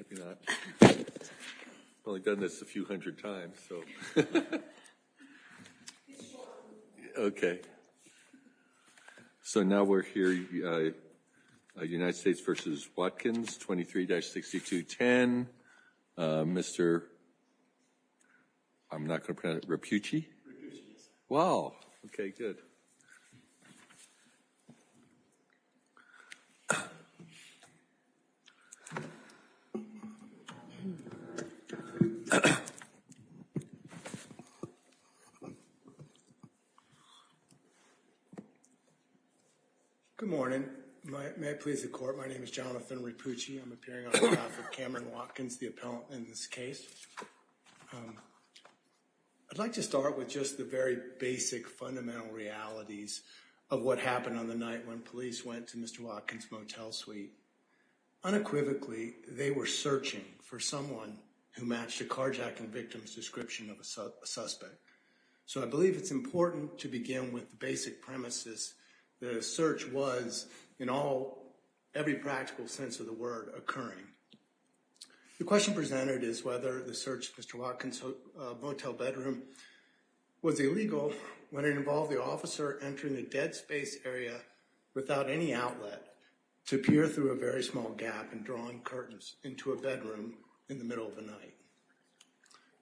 23-6210, Mr. Rapucci, wow, okay, good, okay, good, good, good, good, good, good, good, good, good, good morning, my name is Jonathan Rapucci. I'm appearing on behalf of Cameron Watkins, the appellant in this case. I'd like to start with just the very basic fundamental realities of what happened on the night when police went to Mr. Watkins' motel suite. Unequivocally, they were searching for someone who matched the carjacking victim's description of a suspect. So I believe it's important to begin with the basic premises that a search was, in every practical sense of the word, occurring. The question presented is whether the search of Mr. Watkins' motel bedroom was illegal when it involved the officer entering the dead space area without any outlet to peer through a very small gap and drawing curtains into a bedroom in the middle of the night.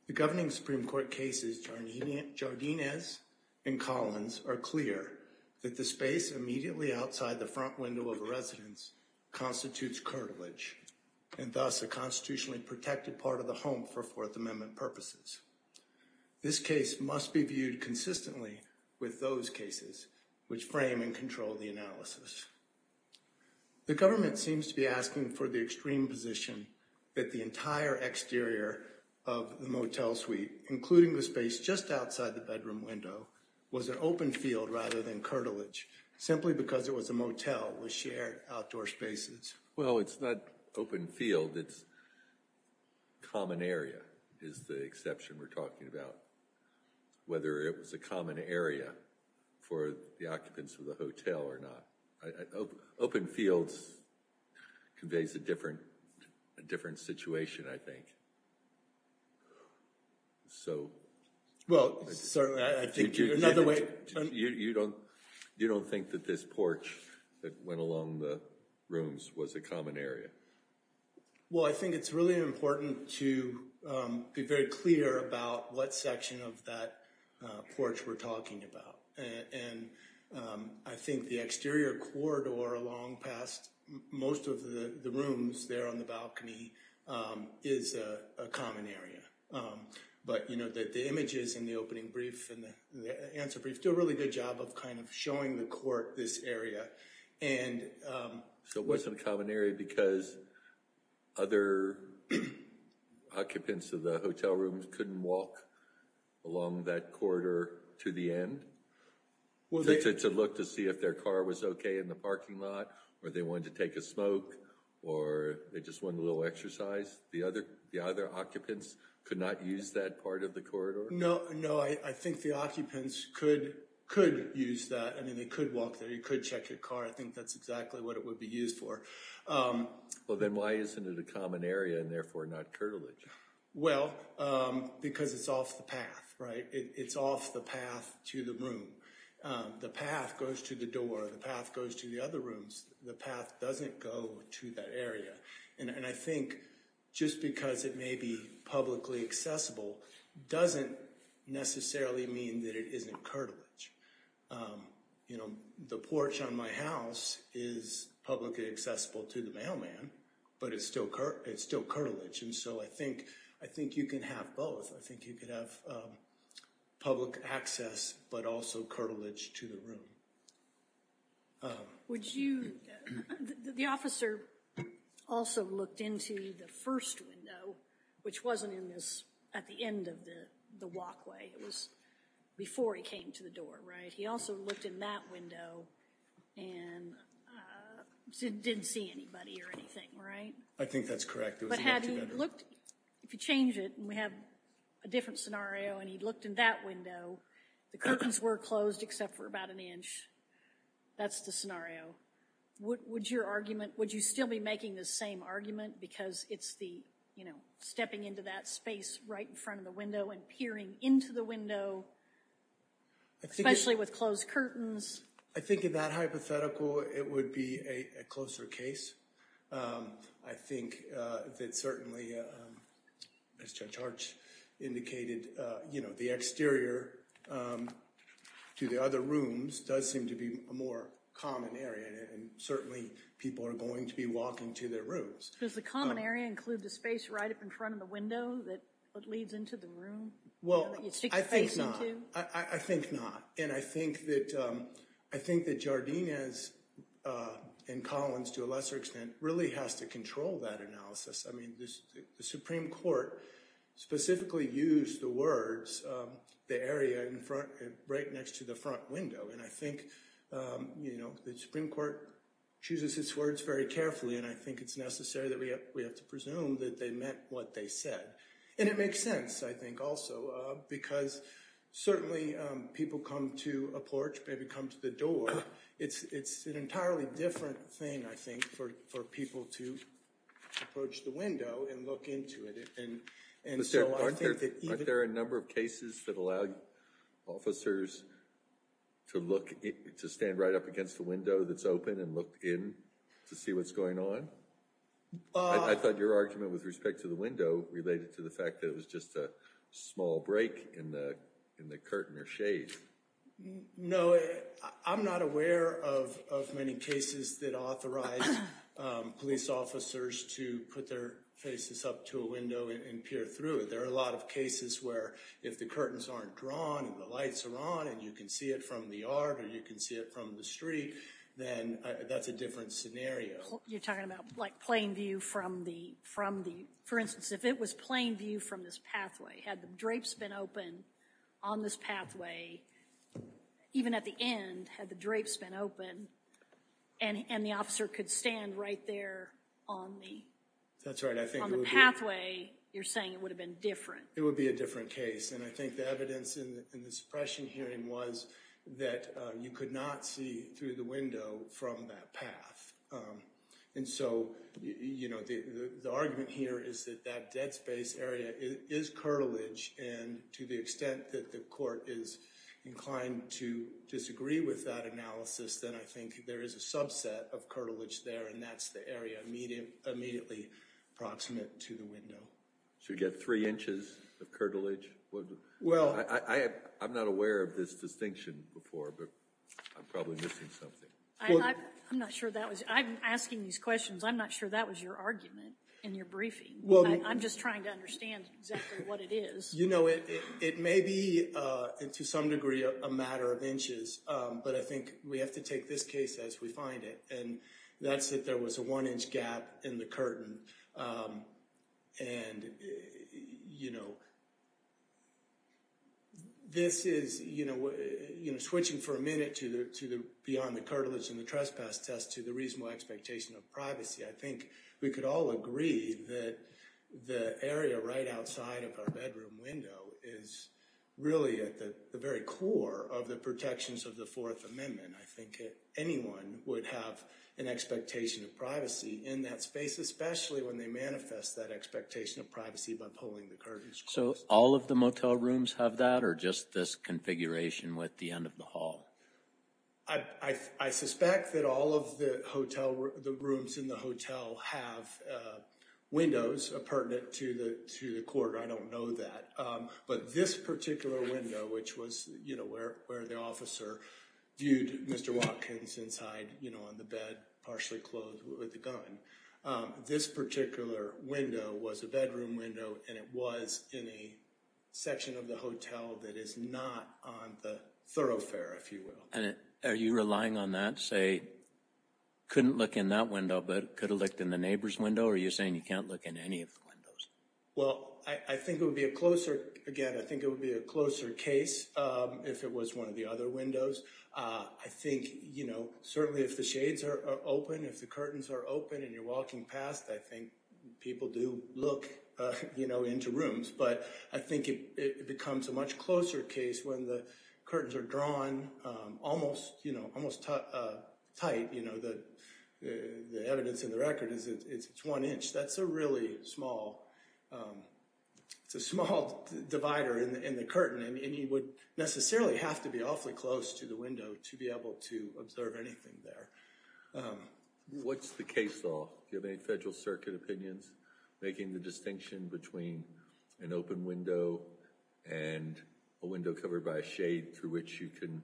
The governing Supreme Court cases Jardinez and Collins are clear that the space immediately outside the front window of a residence constitutes curtilage and thus a constitutionally protected part of the home for Fourth Amendment purposes. This case must be viewed consistently with those cases which frame and control the analysis. The government seems to be asking for the extreme position that the entire exterior of the motel suite, including the space just outside the bedroom window, was an open field rather than curtilage, simply because it was a motel with shared outdoor spaces. Well, it's not open field, it's common area is the exception we're talking about. Whether it was a common area for the occupants of the hotel or not. Open fields conveys a different situation, I think. You don't think that this porch that went along the rooms was a common area? Well, I think it's really important to be very clear about what section of that porch we're talking about. And I think the exterior corridor along past most of the rooms there on the balcony is a common area. But you know that the images in the opening brief and the answer brief do a really good job of kind of showing the court this area. So it wasn't common area because other occupants of the hotel rooms couldn't walk along that corridor to the end? To look to see if their car was okay in the parking lot, or they wanted to take a smoke, or they just wanted a little exercise. The other occupants could not use that part of the corridor? No, I think the occupants could use that, I mean they could walk there, they could check their car, I think that's exactly what it would be used for. Well then why isn't it a common area and therefore not curtilage? Well, because it's off the path, right? It's off the path to the room. The path goes to the door, the path goes to the other rooms, the path doesn't go to that area. And I think just because it may be publicly accessible doesn't necessarily mean that it isn't curtilage. The porch on my house is publicly accessible to the mailman, but it's still curtilage. And so I think you can have both, I think you can have public access but also curtilage to the room. Would you, the officer also looked into the first window, which wasn't at the end of the walkway, it was before he came to the door, right? He also looked in that window and didn't see anybody or anything, right? I think that's correct. But had he looked, if you change it and we have a different scenario and he looked in that window, the curtains were closed except for about an inch. That's the scenario. Would your argument, would you still be making the same argument because it's the, you know, stepping into that space right in front of the window and peering into the window, especially with closed curtains? I think in that hypothetical, it would be a closer case. I think that certainly, as Judge Arch indicated, you know, the exterior to the other rooms does seem to be a more common area. And certainly people are going to be walking to their rooms. Does the common area include the space right up in front of the window that leads into the room? Well, I think not. I think not. And I think that, I think that Jardines and Collins, to a lesser extent, really has to control that analysis. I mean, the Supreme Court specifically used the words, the area in front, right next to the front window. And I think, you know, the Supreme Court chooses its words very carefully. And I think it's necessary that we have to presume that they meant what they said. And it makes sense, I think, also, because certainly people come to a porch, maybe come to the door. It's an entirely different thing, I think, for people to approach the window and look into it. And so I think that even— Aren't there a number of cases that allow officers to look, to stand right up against the window that's open and look in to see what's going on? I thought your argument with respect to the window related to the fact that it was just a small break in the curtain or shade. No, I'm not aware of many cases that authorize police officers to put their faces up to a window and peer through it. There are a lot of cases where if the curtains aren't drawn and the lights are on and you can see it from the yard or you can see it from the street, then that's a different scenario. You're talking about plain view from the—for instance, if it was plain view from this pathway, had the drapes been open on this pathway, even at the end, had the drapes been open and the officer could stand right there on the pathway, you're saying it would have been different. It would be a different case. And I think the evidence in the suppression hearing was that you could not see through the window from that path. And so, you know, the argument here is that that dead space area is curtilage. And to the extent that the court is inclined to disagree with that analysis, then I think there is a subset of curtilage there. And that's the area immediately approximate to the window. So you get three inches of curtilage? Well, I'm not aware of this distinction before, but I'm probably missing something. I'm not sure that was—I'm asking these questions. I'm not sure that was your argument in your briefing. I'm just trying to understand exactly what it is. You know, it may be to some degree a matter of inches, but I think we have to take this case as we find it. And that's that there was a one-inch gap in the curtain. And, you know, this is, you know, switching for a minute beyond the curtilage and the trespass test to the reasonable expectation of privacy. I think we could all agree that the area right outside of our bedroom window is really at the very core of the protections of the Fourth Amendment. I think anyone would have an expectation of privacy in that space, especially when they manifest that expectation of privacy by pulling the curtains closed. So all of the motel rooms have that, or just this configuration with the end of the hall? I suspect that all of the hotel—the rooms in the hotel have windows pertinent to the corridor. I don't know that. But this particular window, which was, you know, where the officer viewed Mr. Watkins inside, you know, on the bed, partially clothed with the gun. This particular window was a bedroom window, and it was in a section of the hotel that is not on the thoroughfare, if you will. And are you relying on that to say, couldn't look in that window, but could have looked in the neighbor's window? Or are you saying you can't look in any of the windows? Well, I think it would be a closer—again, I think it would be a closer case if it was one of the other windows. I think, you know, certainly if the shades are open, if the curtains are open and you're walking past, I think people do look, you know, into rooms. But I think it becomes a much closer case when the curtains are drawn almost, you know, almost tight. You know, the evidence in the record is it's one inch. That's a really small—it's a small divider in the curtain. And you would necessarily have to be awfully close to the window to be able to observe anything there. What's the case law? Do you have any Federal Circuit opinions making the distinction between an open window and a window covered by a shade through which you can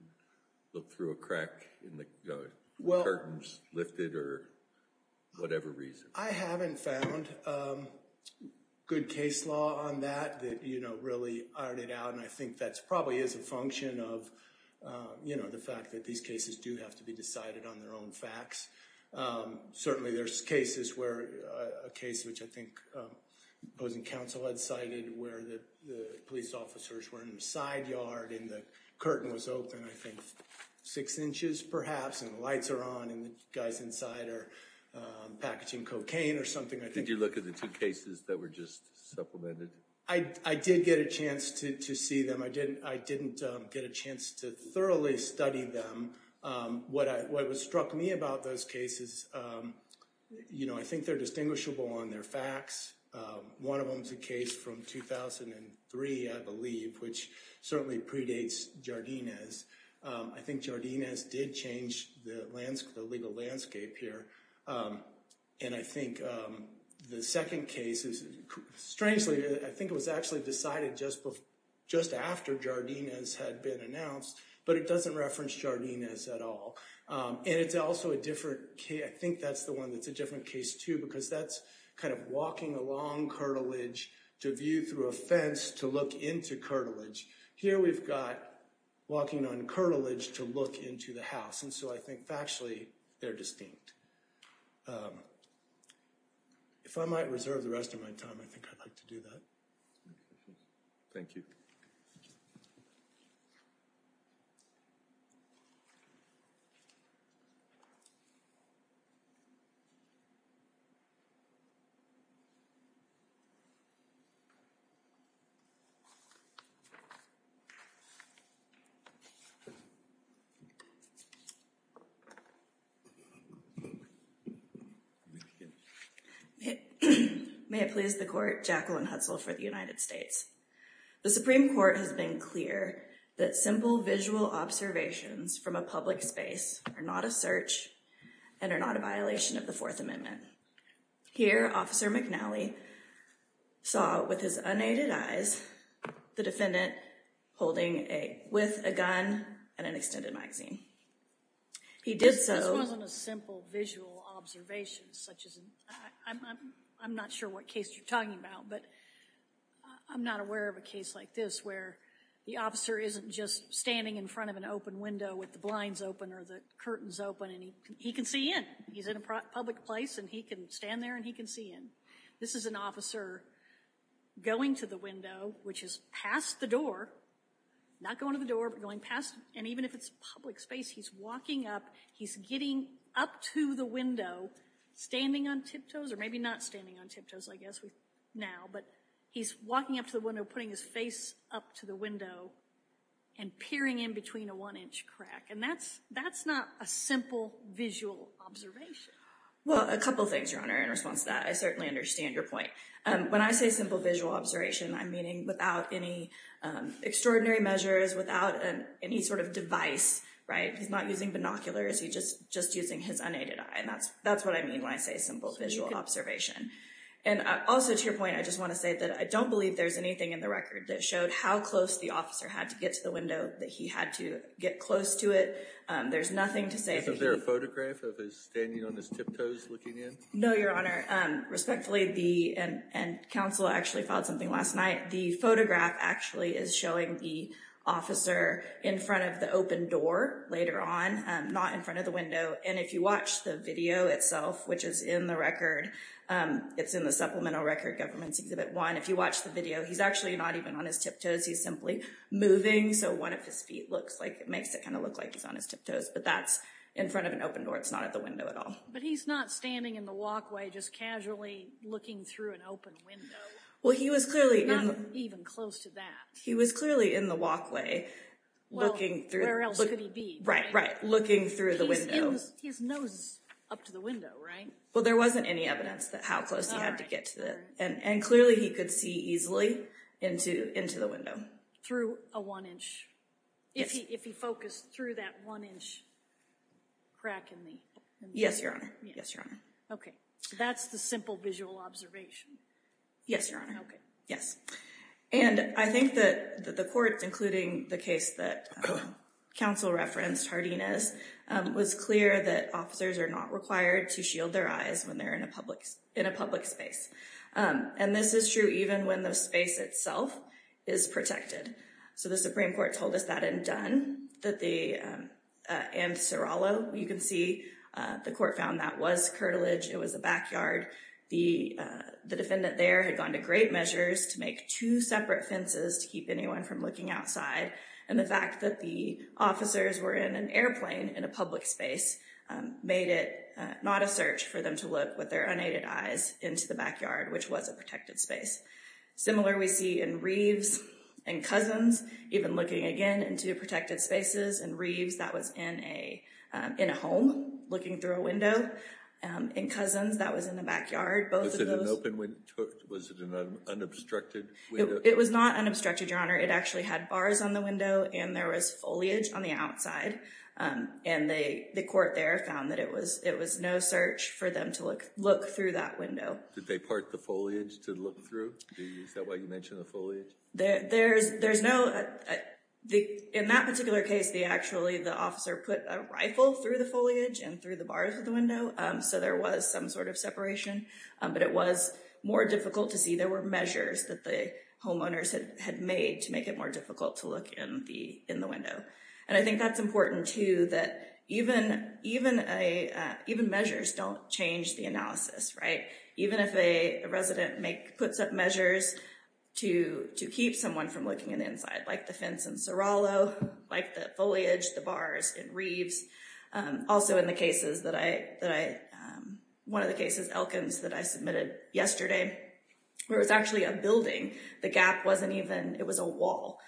look through a crack in the curtain? Or curtains lifted or whatever reason? I haven't found good case law on that that, you know, really ironed it out. And I think that probably is a function of, you know, the fact that these cases do have to be decided on their own facts. Certainly there's cases where—a case which I think opposing counsel had cited where the police officers were in the side yard and the curtain was open, I think, six inches perhaps, and the lights are on and the guys inside are packaging cocaine or something. Did you look at the two cases that were just supplemented? I did get a chance to see them. I didn't get a chance to thoroughly study them. What struck me about those cases, you know, I think they're distinguishable on their facts. One of them is a case from 2003, I believe, which certainly predates Jardinez. I think Jardinez did change the legal landscape here. And I think the second case is—strangely, I think it was actually decided just after Jardinez had been announced, but it doesn't reference Jardinez at all. And it's also a different case—I think that's the one that's a different case, too, because that's kind of walking along curtilage to view through a fence to look into curtilage. Here we've got walking on curtilage to look into the house, and so I think factually they're distinct. If I might reserve the rest of my time, I think I'd like to do that. Thank you. May it please the Court, Jacqueline Hutzel for the United States. The Supreme Court has been clear that simple visual observations from a public space are not a search and are not a violation of the Fourth Amendment. Here, Officer McNally saw with his unaided eyes the defendant holding a—with a gun and an extended magazine. He did so— This wasn't a simple visual observation, such as—I'm not sure what case you're talking about, but I'm not aware of a case like this where the officer isn't just standing in front of an open window with the blinds open or the curtains open, and he can see in. He's in a public place, and he can stand there, and he can see in. This is an officer going to the window, which is past the door—not going to the door, but going past, and even if it's public space, he's walking up. He's getting up to the window, standing on tiptoes, or maybe not standing on tiptoes, I guess, now, but he's walking up to the window, putting his face up to the window, and peering in between a one-inch crack. And that's not a simple visual observation. Well, a couple things, Your Honor, in response to that. I certainly understand your point. When I say simple visual observation, I'm meaning without any extraordinary measures, without any sort of device, right? He's not using binoculars. He's just using his unaided eye, and that's what I mean when I say simple visual observation. And also, to your point, I just want to say that I don't believe there's anything in the record that showed how close the officer had to get to the window, that he had to get close to it. There's nothing to say— Is there a photograph of him standing on his tiptoes, looking in? No, Your Honor. Respectfully, the—and counsel actually filed something last night. The photograph actually is showing the officer in front of the open door later on, not in front of the window. And if you watch the video itself, which is in the record, it's in the Supplemental Record, Government's Exhibit 1. If you watch the video, he's actually not even on his tiptoes. He's simply moving, so one of his feet looks like—makes it kind of look like he's on his tiptoes. But that's in front of an open door. It's not at the window at all. But he's not standing in the walkway just casually looking through an open window. Well, he was clearly— Not even close to that. He was clearly in the walkway looking through— Well, where else could he be? Right, right. Looking through the window. His nose is up to the window, right? Well, there wasn't any evidence that how close he had to get to the— All right. And clearly he could see easily into the window. Through a one-inch? Yes. If he focused through that one-inch crack in the— Yes, Your Honor. Yes, Your Honor. Okay. That's the simple visual observation? Yes, Your Honor. Okay. Yes. And I think that the courts, including the case that counsel referenced, Hardina's, was clear that officers are not required to shield their eyes when they're in a public space. And this is true even when the space itself is protected. So the Supreme Court told us that in Dunn and Serralo. You can see the court found that was curtilage. It was a backyard. The defendant there had gone to great measures to make two separate fences to keep anyone from looking outside. And the fact that the officers were in an airplane in a public space made it not a search for them to look with their unaided eyes into the backyard, which was a protected space. Similar, we see in Reeves and Cousins, even looking again into protected spaces. In Reeves, that was in a home, looking through a window. In Cousins, that was in the backyard. Was it an open window? Was it an unobstructed window? It was not unobstructed, Your Honor. It actually had bars on the window, and there was foliage on the outside. And the court there found that it was no search for them to look through that window. Did they part the foliage to look through? Is that why you mentioned the foliage? In that particular case, actually, the officer put a rifle through the foliage and through the bars of the window, so there was some sort of separation. But it was more difficult to see. There were measures that the homeowners had made to make it more difficult to look in the window. And I think that's important, too, that even measures don't change the analysis, right? Even if a resident puts up measures to keep someone from looking inside, like the fence in Serralo, like the foliage, the bars in Reeves. Also, in one of the cases, Elkins, that I submitted yesterday, there was actually a building. The gap wasn't even—it was a wall,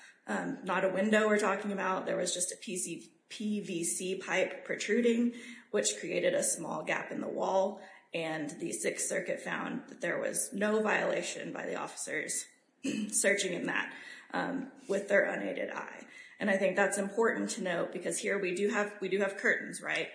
not a window we're talking about. There was just a PVC pipe protruding, which created a small gap in the wall. And the Sixth Circuit found that there was no violation by the officers searching in that with their unaided eye. And I think that's important to note, because here we do have curtains, right?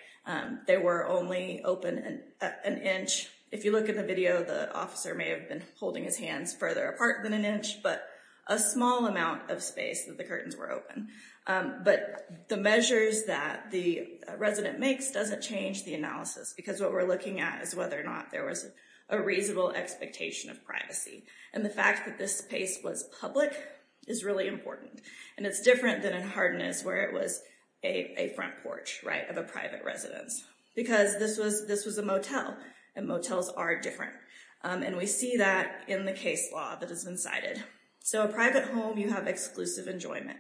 They were only open an inch. If you look at the video, the officer may have been holding his hands further apart than an inch, but a small amount of space that the curtains were open. But the measures that the resident makes doesn't change the analysis, because what we're looking at is whether or not there was a reasonable expectation of privacy. And the fact that this space was public is really important. And it's different than in Hardin is, where it was a front porch, right, of a private residence. Because this was a motel, and motels are different. And we see that in the case law that has been cited. So a private home, you have exclusive enjoyment.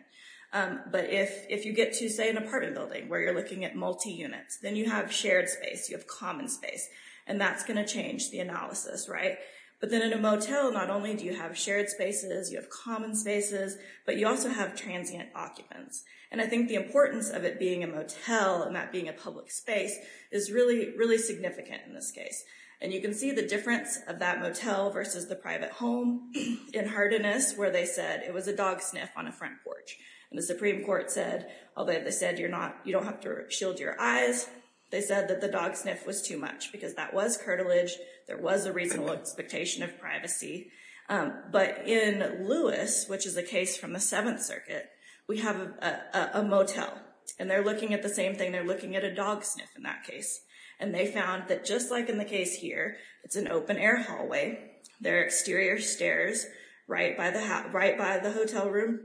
But if you get to, say, an apartment building where you're looking at multi-units, then you have shared space, you have common space. And that's going to change the analysis, right? But then in a motel, not only do you have shared spaces, you have common spaces, but you also have transient occupants. And I think the importance of it being a motel and that being a public space is really, really significant in this case. And you can see the difference of that motel versus the private home in Hardin is where they said it was a dog sniff on a front porch. And the Supreme Court said, although they said you don't have to shield your eyes, they said that the dog sniff was too much. Because that was cartilage. There was a reasonable expectation of privacy. But in Lewis, which is a case from the Seventh Circuit, we have a motel. And they're looking at the same thing. They're looking at a dog sniff in that case. And they found that just like in the case here, it's an open-air hallway. There are exterior stairs right by the hotel room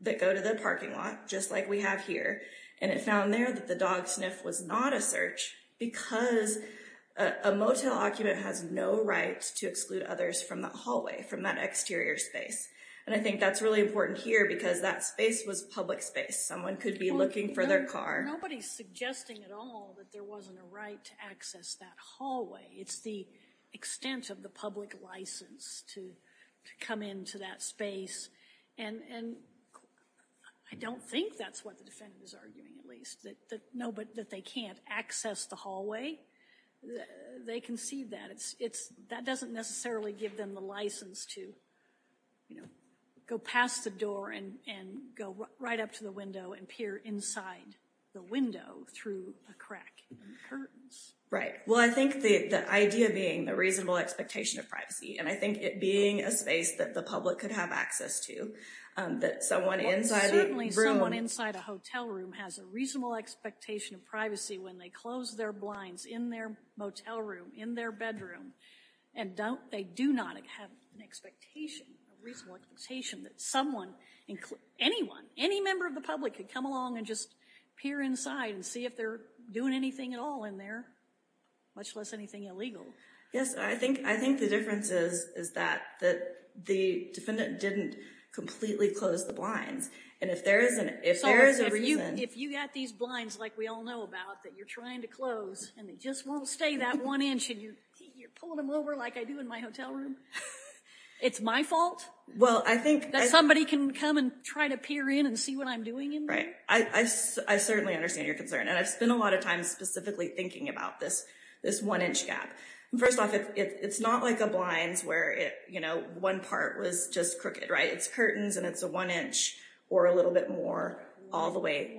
that go to the parking lot, just like we have here. And it found there that the dog sniff was not a search because a motel occupant has no right to exclude others from that hallway, from that exterior space. And I think that's really important here because that space was public space. Someone could be looking for their car. Nobody's suggesting at all that there wasn't a right to access that hallway. It's the extent of the public license to come into that space. And I don't think that's what the defendant is arguing, at least, that they can't access the hallway. They can see that. But that doesn't necessarily give them the license to go past the door and go right up to the window and peer inside the window through a crack in the curtains. Right. Well, I think the idea being the reasonable expectation of privacy, and I think it being a space that the public could have access to, that someone inside a room. Has a reasonable expectation of privacy when they close their blinds in their motel room, in their bedroom. And they do not have an expectation, a reasonable expectation that someone, anyone, any member of the public could come along and just peer inside and see if they're doing anything at all in there, much less anything illegal. Yes, I think the difference is that the defendant didn't completely close the blinds. And if there is a reason. If you got these blinds, like we all know about, that you're trying to close, and they just won't stay that one inch, and you're pulling them over like I do in my hotel room, it's my fault? Well, I think. That somebody can come and try to peer in and see what I'm doing in there? Right. I certainly understand your concern. And I've spent a lot of time specifically thinking about this one inch gap. First off, it's not like a blinds where one part was just crooked, right? It's curtains and it's a one inch or a little bit more all the way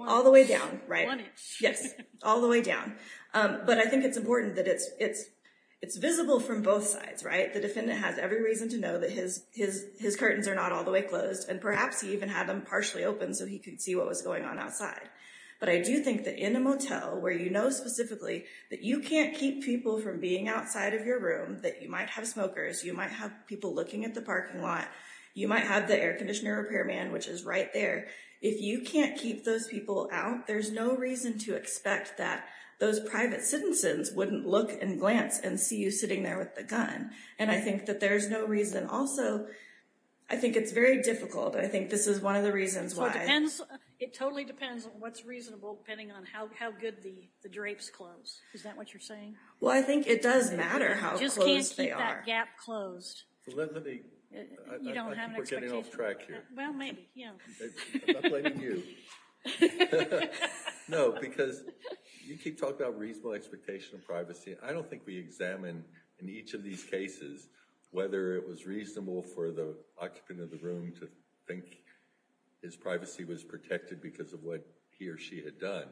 down, right? One inch. Yes, all the way down. But I think it's important that it's visible from both sides, right? The defendant has every reason to know that his curtains are not all the way closed. And perhaps he even had them partially open so he could see what was going on outside. But I do think that in a motel where you know specifically that you can't keep people from being outside of your room, that you might have smokers, you might have people looking at the parking lot. You might have the air conditioner repairman, which is right there. If you can't keep those people out, there's no reason to expect that those private citizens wouldn't look and glance and see you sitting there with the gun. And I think that there's no reason. Also, I think it's very difficult. I think this is one of the reasons why. So it depends. It totally depends on what's reasonable depending on how good the drapes close. Is that what you're saying? Well, I think it does matter how closed they are. You just can't keep that gap closed. You don't have an expectation. I think we're getting off track here. Well, maybe. I'm not blaming you. No, because you keep talking about reasonable expectation of privacy. I don't think we examine in each of these cases whether it was reasonable for the occupant of the room to think his privacy was protected because of what he or she had done.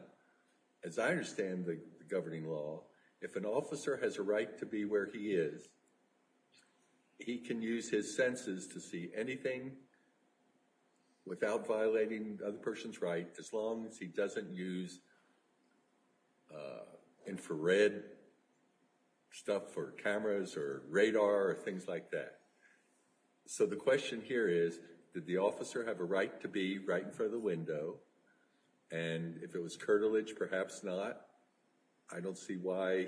As I understand the governing law, if an officer has a right to be where he is, he can use his senses to see anything without violating the other person's right as long as he doesn't use infrared stuff for cameras or radar or things like that. So the question here is, did the officer have a right to be right in front of the window? And if it was curtilage, perhaps not. I don't see why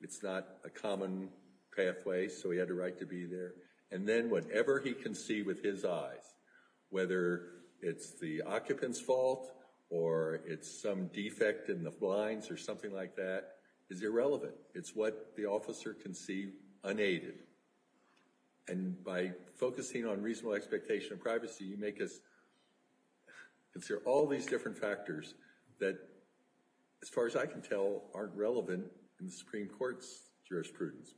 it's not a common pathway, so he had a right to be there. And then whatever he can see with his eyes, whether it's the occupant's fault or it's some defect in the blinds or something like that, is irrelevant. It's what the officer can see unaided. And by focusing on reasonable expectation of privacy, you make us consider all these different factors that, as far as I can tell, aren't relevant in the Supreme Court's jurisprudence.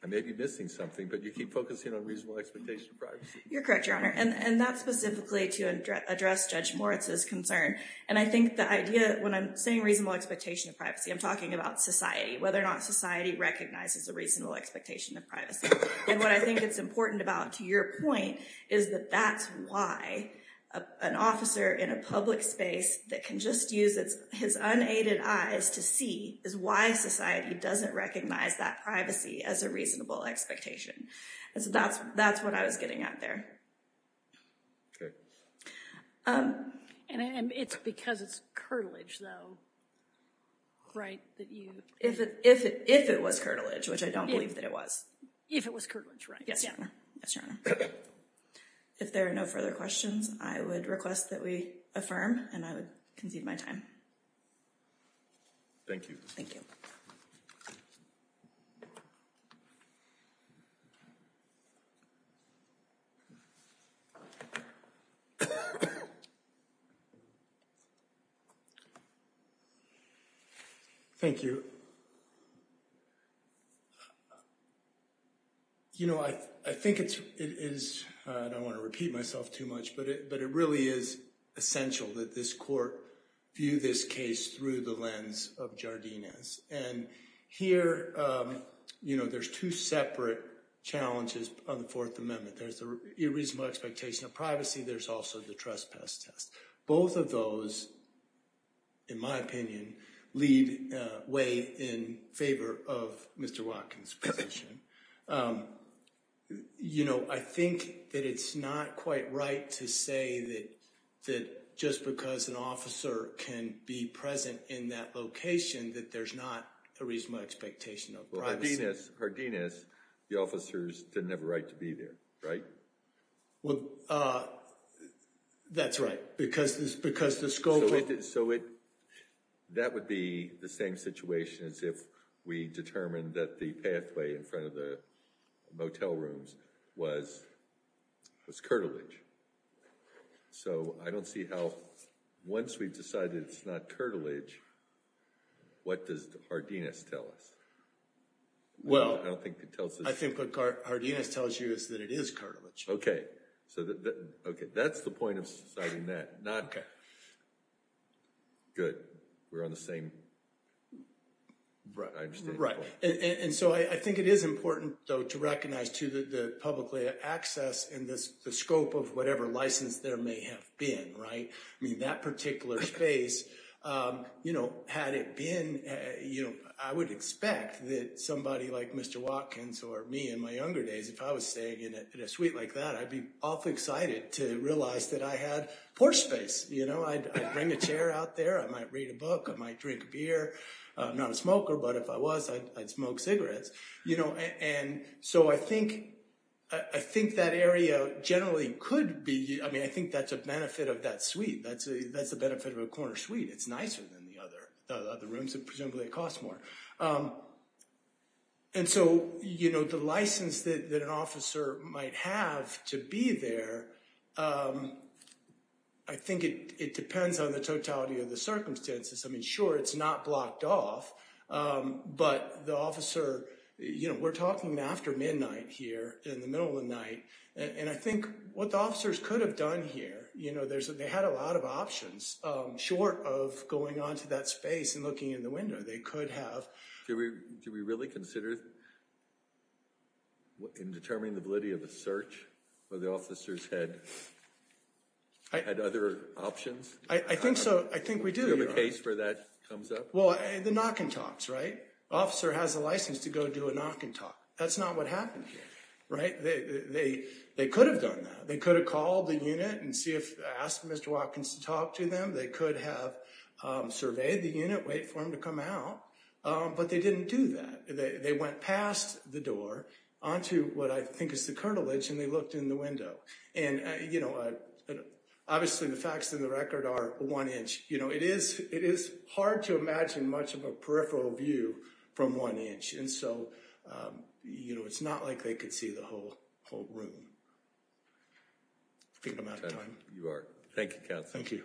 I may be missing something, but you keep focusing on reasonable expectation of privacy. You're correct, Your Honor. And that's specifically to address Judge Moritz's concern. And I think the idea, when I'm saying reasonable expectation of privacy, I'm talking about society, whether or not society recognizes a reasonable expectation of privacy. And what I think it's important about, to your point, is that that's why an officer in a public space that can just use his unaided eyes to see is why society doesn't recognize that privacy as a reasonable expectation. So that's what I was getting at there. OK. And it's because it's curtilage, though, right, that you? If it was curtilage, which I don't believe that it was. If it was curtilage, right. Yes, Your Honor. Yes, Your Honor. If there are no further questions, I would request that we affirm, and I would concede my time. Thank you. Thank you. Thank you. You know, I think it is, and I don't want to repeat myself too much, but it really is essential that this court view this case through the lens of Jardinez. And here, you know, there's two separate challenges on the Fourth Amendment. There's the reasonable expectation of privacy. There's also the trespass test. Both of those, in my opinion, lead way in favor of Mr. Watkins' position. You know, I think that it's not quite right to say that just because an officer can be present in that location that there's not a reasonable expectation of privacy. Well, Jardinez, the officers didn't have a right to be there, right? Well, that's right, because the scope of. So that would be the same situation as if we determined that the pathway in front of the motel rooms was curtilage. So I don't see how once we've decided it's not curtilage, what does Jardinez tell us? Well, I think what Jardinez tells you is that it is curtilage. Okay. So, okay. That's the point of deciding that. Not. Okay. Good. We're on the same. Right. I understand. Right. And so I think it is important, though, to recognize, too, the public access and the scope of whatever license there may have been, right? I mean, that particular space, had it been, I would expect that somebody like Mr. Watkins or me in my younger days, if I was staying in a suite like that, I'd be awfully excited to realize that I had porch space. I'd bring a chair out there. I might read a book. I might drink a beer. I'm not a smoker, but if I was, I'd smoke cigarettes. And so I think that area generally could be, I mean, I think that's a benefit of that suite. That's a benefit of a corner suite. It's nicer than the other rooms, and presumably it costs more. And so the license that an officer might have to be there, I think it depends on the totality of the circumstances. I mean, sure, it's not blocked off, but the officer, you know, we're talking after midnight here in the middle of the night, and I think what the officers could have done here, you know, they had a lot of options short of going on to that space and looking in the window. They could have. Do we really consider in determining the validity of a search whether the officers had other options? I think so. I think we do. Do you have a case where that comes up? Well, the knock and talks, right? Officer has a license to go do a knock and talk. That's not what happened here, right? They could have done that. They could have called the unit and asked Mr. Watkins to talk to them. They could have surveyed the unit, wait for him to come out, but they didn't do that. They went past the door onto what I think is the curtilage, and they looked in the window. And, you know, obviously the facts of the record are one inch. You know, it is hard to imagine much of a peripheral view from one inch, and so, you know, it's not like they could see the whole room. I think I'm out of time. You are. Thank you, Captain. Thank you.